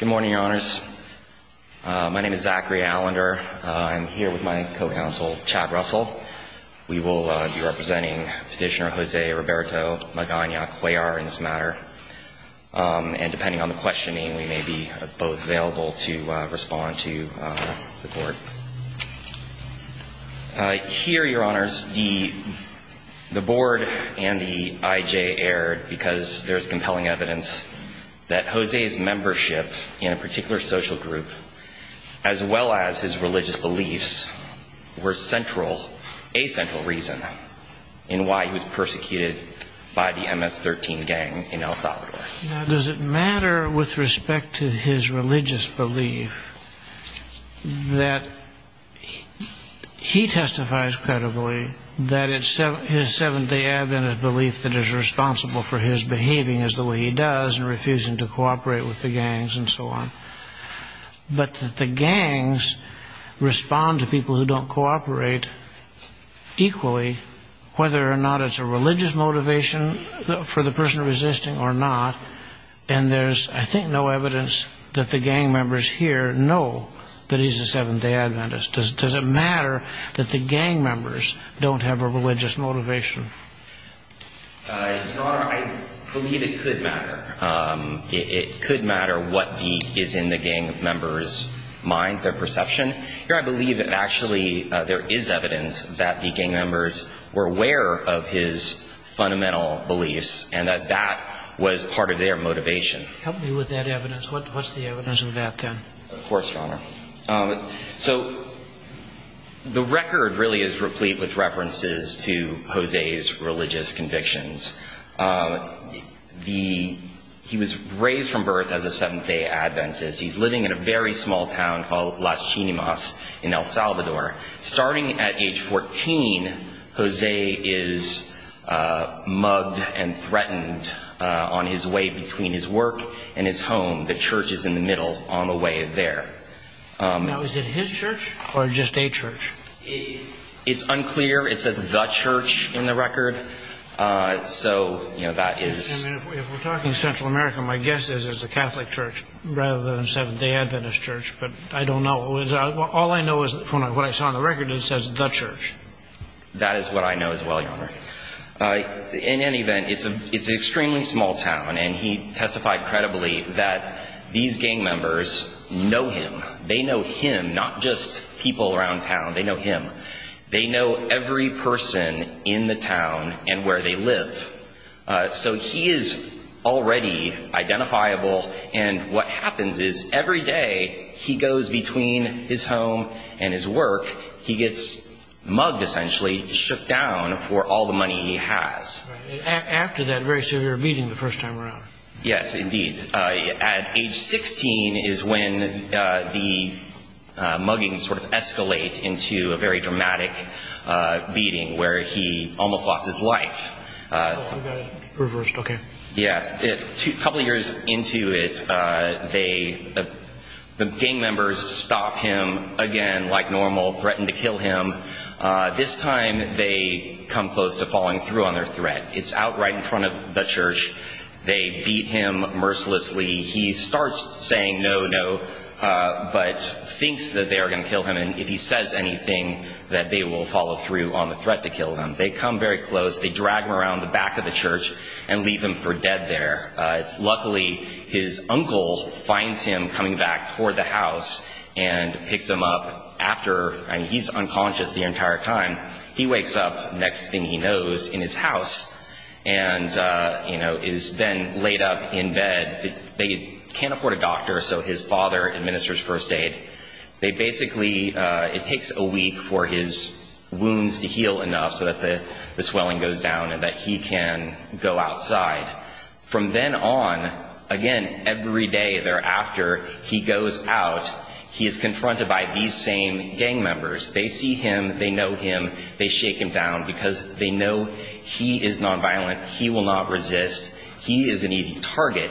Good morning, Your Honors. My name is Zachary Allender. I'm here with my co-counsel, Chad Russell. We will be representing Petitioner Jose Roberto Magana Cuellar in this matter. And depending on the questioning, we may be both available to respond to the court. Here Your Honors, the board and the IJ erred because there's compelling evidence that Jose's membership in a particular social group, as well as his religious beliefs, were central, a central reason in why he was persecuted by the MS-13 gang in El Salvador. Now, does it matter with respect to his religious belief that he testifies credibly that it's his Seventh-day Adventist belief that is responsible for his behaving as the way he does and refusing to cooperate with the gangs and so on, but that the gangs respond to people who don't cooperate equally, whether or not it's a religious motivation for the person resisting or not? And there's, I think, no evidence that the gang members here know that he's a Seventh-day Adventist. Does it matter that the gang members don't have a religious motivation? Your Honor, I believe it could matter. It could matter what is in the gang members' mind, their perception. Here I believe that actually there is evidence that the gang members were aware of his fundamental beliefs and that that was part of their motivation. Help me with that evidence. What's the evidence of that, then? Of course, Your Honor. So the record really is replete with references to Jose's religious convictions. He was raised from birth as a Seventh-day Adventist. He's living in a very small town called Las Chinimas in El Salvador. Starting at age 14, Jose is mugged and threatened on his way between his work and his home. The church is in the middle on the way there. Now, is it his church or just a church? It's unclear. It says the church in the record. So, you know, that is... If we're talking Central America, my guess is it's a Catholic church rather than a Seventh-day Adventist church. But I don't know. All I know from what I saw on the record is it says the church. That is what I know as well, Your Honor. In any event, it's an extremely small town. And he testified credibly that these gang members know him. They know him, not just people around town. They know him. They know every person in the town and where they live. So he is already identifiable. And what happens is every day he goes between his home and his work, he gets mugged, essentially, shook down for all the money he has. After that very severe beating the first time around. Yes, indeed. At age 16 is when the mugging sort of escalates into, you know, what we call the very dramatic beating where he almost lost his life. Oh, I got it reversed. Okay. Yeah. A couple of years into it, the gang members stop him again like normal, threaten to kill him. This time they come close to falling through on their threat. It's out right in front of the church. They beat him mercilessly. He starts saying no, no, but thinks that they are going to kill him. And if he says anything, that they will follow through on the threat to kill him. They come very close. They drag him around the back of the church and leave him for dead there. Luckily, his uncle finds him coming back toward the house and picks him up after. And he's unconscious the entire time. He wakes up, next thing he knows, in his house and, you know, is then laid up in bed. They can't afford a doctor, so his father administers first aid. They basically, it takes a week for his wounds to heal enough so that the swelling goes down and that he can go outside. From then on, again, every day thereafter, he goes out. He is confronted by these same gang members. They see him. They know him. They shake him down because they know he is nonviolent. He will not resist. He is an easy target.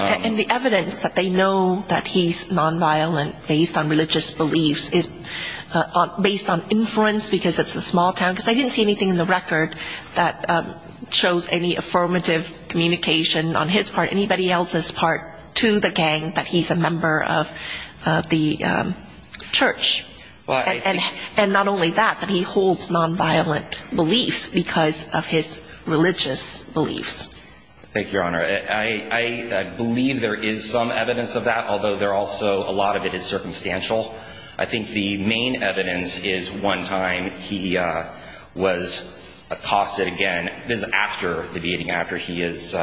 And the evidence that they know that he's nonviolent based on religious beliefs is based on inference because it's a small town. Because they didn't see anything in the record that shows any affirmative communication on his part, anybody else's part, to the gang that he's a member of the church. And not only that, but he holds nonviolent beliefs because of his religious beliefs. Thank you, Your Honor. I believe there is some evidence of that, although there also, a lot of it is circumstantial. I think the main evidence is one time he was accosted again. This is after the beating, after he is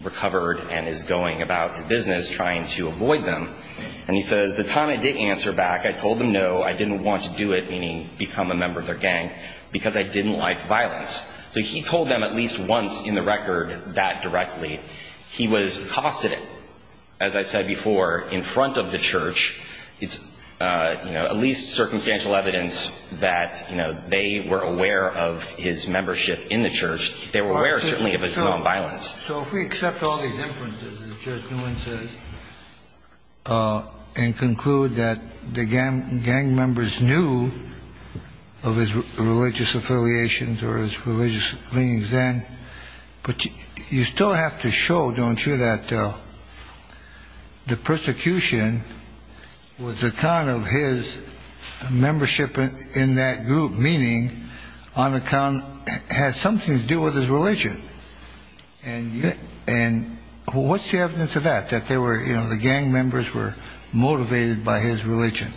recovered and is going about his business, trying to avoid them. And he says, the time I did answer back, I told them no, I didn't want to do it, meaning become a member of their gang, because I didn't like violence. So he told them at least once in the record that directly. He was accosted, as I said before, in front of the church. It's at least circumstantial evidence that they were aware of his membership in the church. They were aware, certainly, of his nonviolence. So if we accept all these inferences, as Judge Nguyen says, and conclude that the gang members knew of his religious affiliations or his religious beliefs then. But you still have to show, don't you, that the persecution was a kind of his membership in that group, meaning on account, has something to do with his religion. And what's the evidence of that, that they were, you know, the gang members were motivated by his religion?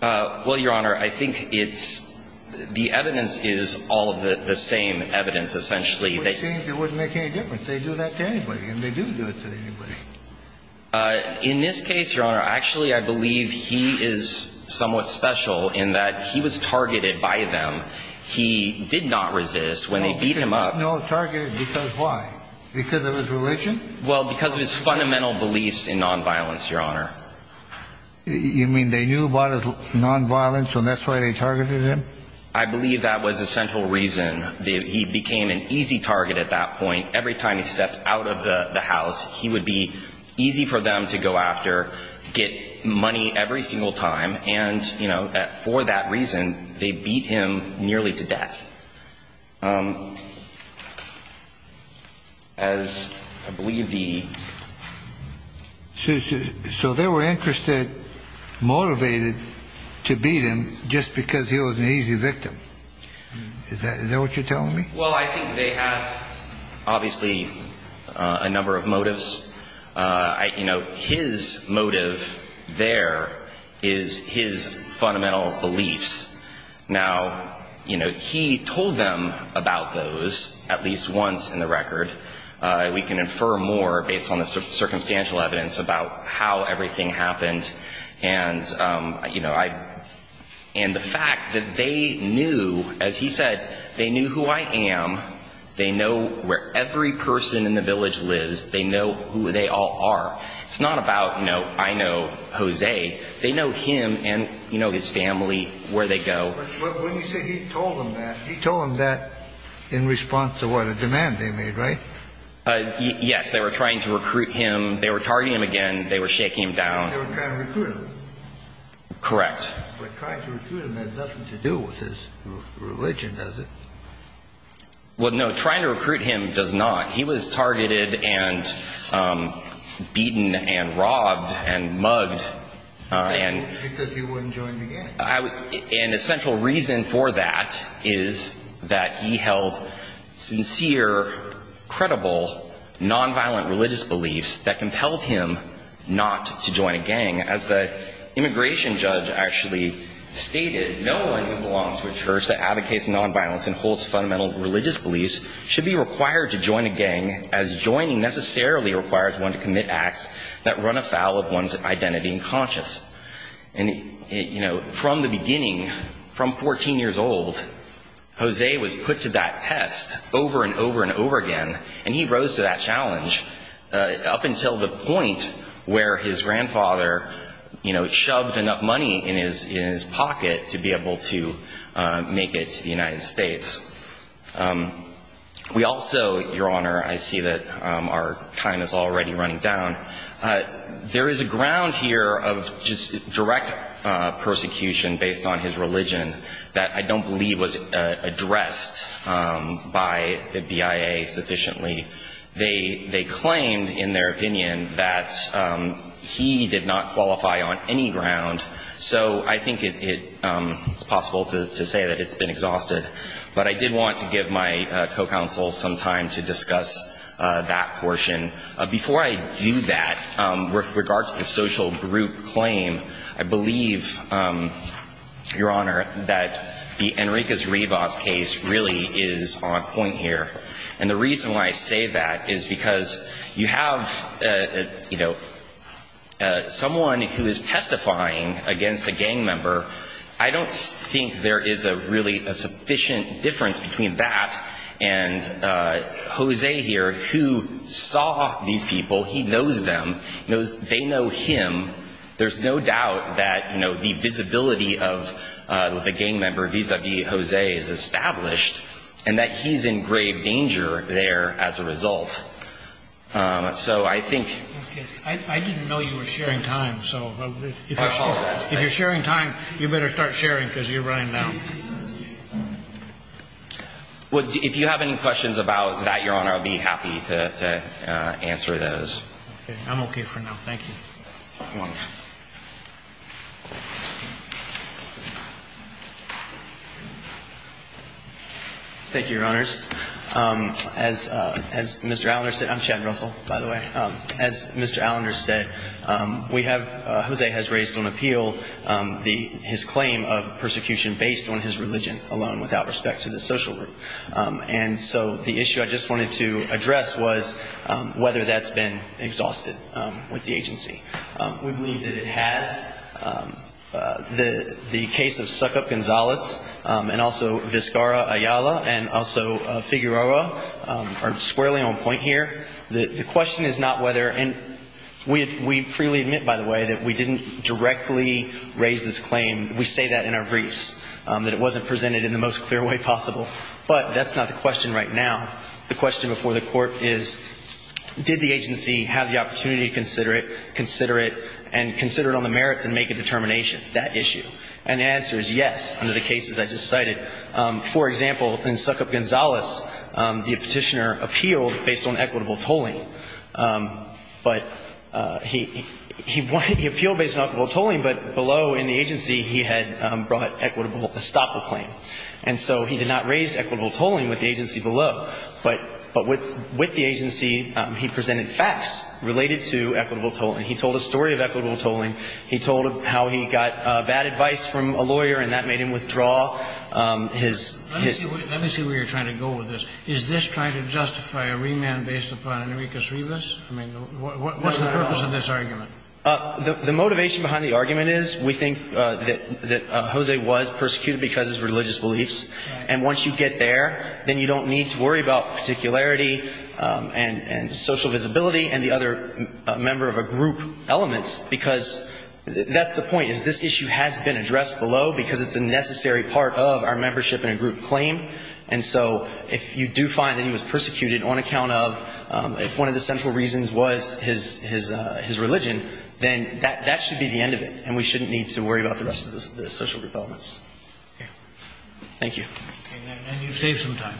Well, Your Honor, I think it's, the evidence is all of the same evidence, essentially. It wouldn't make any difference. They do that to anybody, and they do do it to anybody. In this case, Your Honor, actually, I believe he is somewhat special in that he was targeted by them. He did not resist when they beat him up. No, targeted, because why? Because of his religion? Well, because of his fundamental beliefs in nonviolence, Your Honor. You mean they knew about his nonviolence, and that's why they targeted him? I believe that was a central reason. He became an easy target at that point. Every time he stepped out of the house, he would be easy for them to go after, get money every single time. And, you know, for that reason, they beat him nearly to death. As I believe the... So they were interested, motivated to beat him just because he was an easy victim. Is that what you're telling me? Well, I think they had, obviously, a number of motives. You know, his motive there is his fundamental beliefs. Now, you know, he told them about those at least once in the record. We can infer more based on the circumstantial evidence about how everything happened. And, you know, I... And the fact that they knew, as he said, they knew who I am. They know where every person in the village lives. They know who they all are. It's not about, you know, I know Jose. They know him and, you know, his family, where they go. But when you say he told them that, he told them that in response to what? A demand they made, right? Yes. They were trying to recruit him. They were targeting him again. They were shaking him down. They were trying to recruit him? Correct. But trying to recruit him has nothing to do with his religion, does it? Well, no. Trying to recruit him does not. He was targeted and beaten and robbed and mugged and... Because he wouldn't join the gang? An essential reason for that is that he held sincere, credible, nonviolent religious beliefs that compelled him not to join a gang. As the immigration judge actually stated, no one who belongs to a church that advocates nonviolence and holds fundamental religious beliefs should be required to join a gang, as joining necessarily requires one to commit acts that run afoul of one's identity and conscience. And, you know, from the beginning, from 14 years old, Jose was put to that test over and over and over again. And he rose to that challenge up until the point where his grandfather, you know, shoved enough money in his pocket to be able to make it to the United States. We also, Your Honor, I see that our time is already running down. There is a ground here of just direct persecution based on his religion that I don't believe was addressed by the BIA sufficiently. They claimed, in their opinion, that he did not qualify on any ground. So I think it's possible to say that it's been exhausted. But I did want to give my co-counsel some time to discuss that portion. Before I do that, with regard to the social group claim, I believe, Your Honor, that the Enriquez-Rivas case really is on point here. And the reason why I say that is because you have, you know, someone who is testifying against a gang member. I don't think there is a really a sufficient difference between that and Jose here, who saw these people. He knows them. They know him. There's no doubt that, you know, the visibility of the gang member vis-a-vis Jose is established. And that he's in grave danger there as a result. So I think... I didn't know you were sharing time, so... I apologize. If you're sharing time, you better start sharing because you're running down. Well, if you have any questions about that, Your Honor, I'll be happy to answer those. Okay. I'm okay for now. Thank you. Thank you, Your Honors. As Mr. Allender said... I'm Chad Russell, by the way. As Mr. Allender said, we have... Jose has raised on appeal his claim of persecution based on his religion alone without respect to the social group. And so the issue I just wanted to address was whether that's been exhausted with the agency. We believe that it has. The case of Suckup Gonzalez and also Vizcarra Ayala and also Figueroa are squarely on point here. The question is not whether... And we freely admit, by the way, that we didn't directly raise this claim. We say that in our briefs, that it wasn't presented in the most clear way possible. But that's not the question right now. The question before the Court is, did the agency have the opportunity to consider it, consider it, and consider it on the merits and make a determination, that issue? And the answer is yes, under the cases I just cited. For example, in Suckup Gonzalez, the Petitioner appealed based on equitable tolling. But he appealed based on equitable tolling, but below in the agency, he had brought equitable estoppel claim. And so he did not raise equitable tolling with the agency below. But with the agency, he presented facts related to equitable tolling. He told a story of equitable tolling. He told how he got bad advice from a lawyer, and that made him withdraw his... Let me see where you're trying to go with this. Is this trying to justify a remand based upon Enrique Srivas? I mean, what's the purpose of this argument? The motivation behind the argument is we think that Jose was persecuted because of his religious beliefs. And once you get there, then you don't need to worry about particularity and social visibility and the other member of a group elements, because that's the point, is this issue has been addressed below because it's a necessary part of our membership in a group claim. And so if you do find that he was persecuted on account of if one of the central reasons was his religion, then that should be the end of it, and we shouldn't need to worry about the rest of the social developments. Thank you. And then you save some time.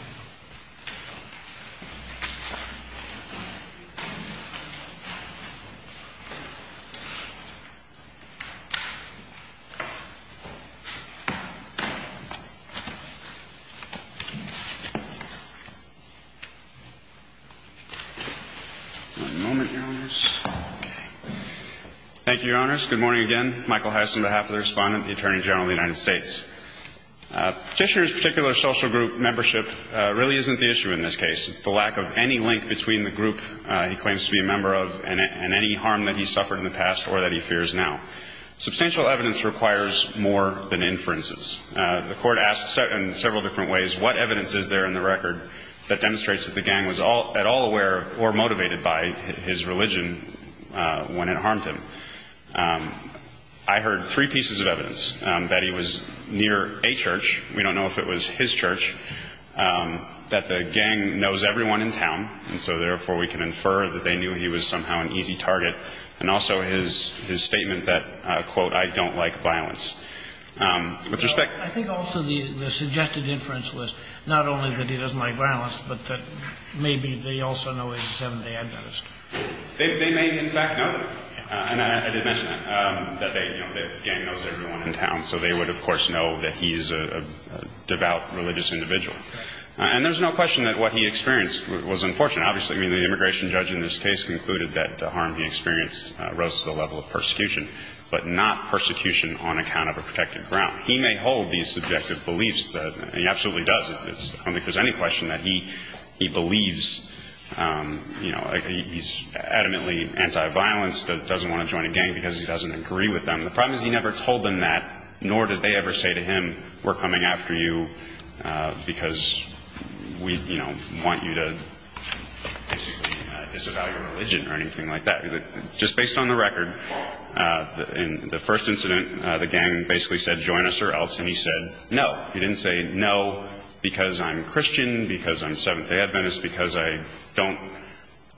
Thank you, Your Honors. Good morning again. Michael Heiss on behalf of the Respondent and the Attorney General of the United States. Petitioner's particular social group membership really isn't the issue in this case. It's the lack of any link between the group he claims to be a member of and any harm that he suffered in the past or that he fears now. Substantial evidence requires more than inferences. The Court asked in several different ways what evidence is there in the record that demonstrates that the gang was at all aware or motivated by his religion when it harmed him. I heard three pieces of evidence, that he was near a church. We don't know if it was his church, that the gang knows everyone in town, and so therefore we can infer that they knew he was somehow an easy target, and also his statement that, quote, I don't like violence. I think also the suggested inference was not only that he doesn't like violence, but that maybe they also know he's a Seventh-day Adventist. They may, in fact, know that. And I did mention that, that they, you know, the gang knows everyone in town, so they would, of course, know that he's a devout religious individual. And there's no question that what he experienced was unfortunate. Obviously, I mean, the immigration judge in this case concluded that the harm he experienced rose to the level of persecution, but not persecution on account of a protected ground. He may hold these subjective beliefs. He absolutely does. I don't think there's any question that he believes, you know, he's adamantly anti-violence, doesn't want to join a gang because he doesn't agree with them. The problem is he never told them that, nor did they ever say to him, we're coming after you because we, you know, want you to basically disavow your religion or anything like that. Just based on the record, in the first incident, the gang basically said join us or else, and he said no. He didn't say no because I'm Christian, because I'm Seventh-day Adventist, because I don't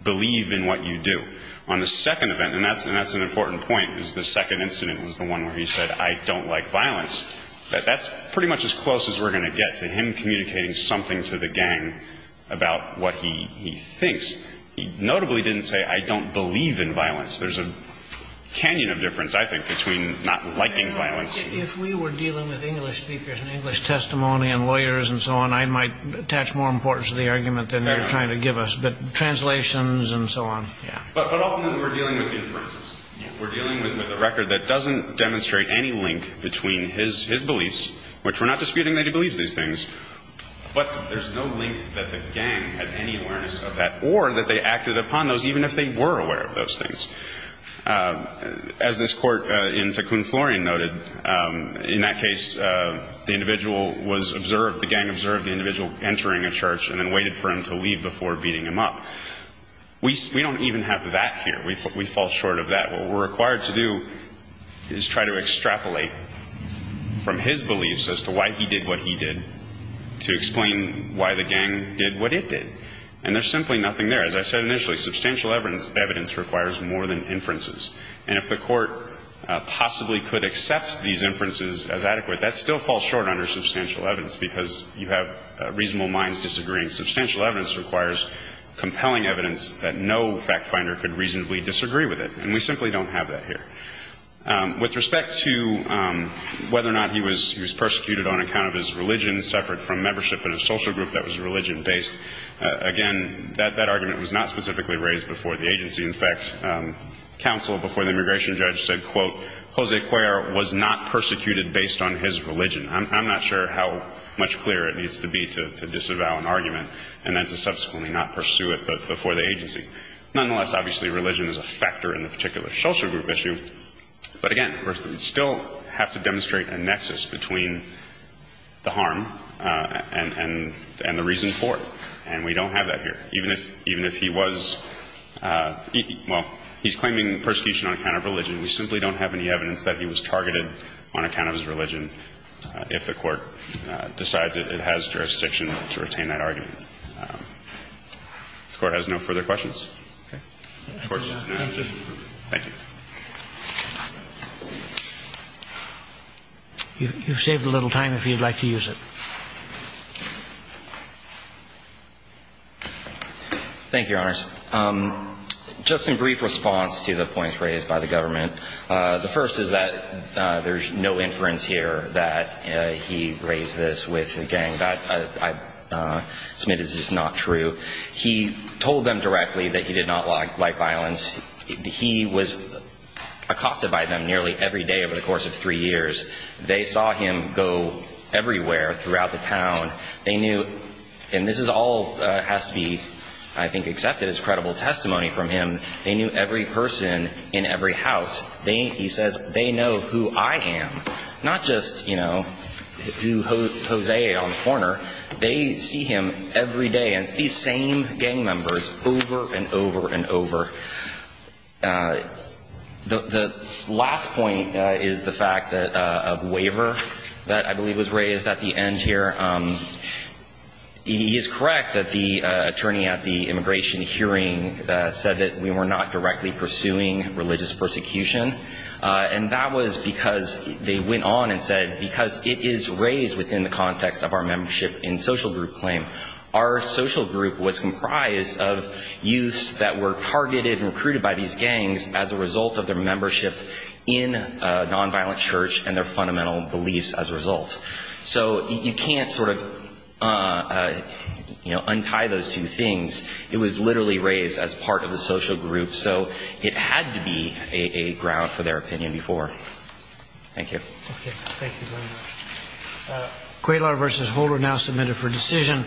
believe in what you do. On the second event, and that's an important point, the second incident was the one where he said I don't like violence. That's pretty much as close as we're going to get to him communicating something to the gang about what he thinks. Notably, he didn't say I don't believe in violence. There's a canyon of difference, I think, between not liking violence. If we were dealing with English speakers and English testimony and lawyers and so on, I might attach more importance to the argument than you're trying to give us, but translations and so on, yeah. But ultimately, we're dealing with inferences. We're dealing with a record that doesn't demonstrate any link between his beliefs, which we're not disputing that he believes these things, but there's no link that the gang had any awareness of that or that they acted upon those, even if they were aware of those things. As this court in Ticoon Florian noted, in that case, the individual was observed, the gang observed the individual entering a church and then waited for him to leave before beating him up. We don't even have that here. We fall short of that. What we're required to do is try to extrapolate from his beliefs as to why he did what he did to explain why the gang did what it did, and there's simply nothing there. As I said initially, substantial evidence requires more than inferences, and if the court possibly could accept these inferences as adequate, that still falls short under substantial evidence because you have reasonable minds disagreeing. Substantial evidence requires compelling evidence that no fact finder could reasonably disagree with it, and we simply don't have that here. With respect to whether or not he was persecuted on account of his religion, separate from membership in a social group that was religion-based, again, that argument was not specifically raised before the agency. In fact, counsel before the immigration judge said, quote, Jose Cuellar was not persecuted based on his religion. I'm not sure how much clearer it needs to be to disavow an argument and then to subsequently not pursue it before the agency. Nonetheless, obviously religion is a factor in the particular social group issue, but, again, we still have to demonstrate a nexus between the harm and the reason for it, and we don't have that here. Even if he was – well, he's claiming persecution on account of religion. We simply don't have any evidence that he was targeted on account of his religion if the Court decides it has jurisdiction to retain that argument. This Court has no further questions. Thank you. You've saved a little time if you'd like to use it. Thank you, Your Honors. Just in brief response to the points raised by the government, the first is that there's no inference here that he raised this with the gang. That, I submit, is just not true. He told them directly that he did not like violence. He was accosted by them nearly every day over the course of three years. They saw him go everywhere throughout the town. And this all has to be, I think, accepted as credible testimony from him. They knew every person in every house. He says, they know who I am. Not just, you know, Jose on the corner. They see him every day. The last point is the fact of waiver that I believe was raised at the end here. He is correct that the attorney at the immigration hearing said that we were not directly pursuing religious persecution. And that was because they went on and said, because it is raised within the context of our membership in social group claim, our social group was comprised of youths that were targeted and recruited by these gangs as a result of their membership in a nonviolent church and their fundamental beliefs as a result. So you can't sort of, you know, untie those two things. It was literally raised as part of the social group. So it had to be a ground for their opinion before. Thank you. Okay. Thank you very much. Quaylor versus Holder now submitted for decision.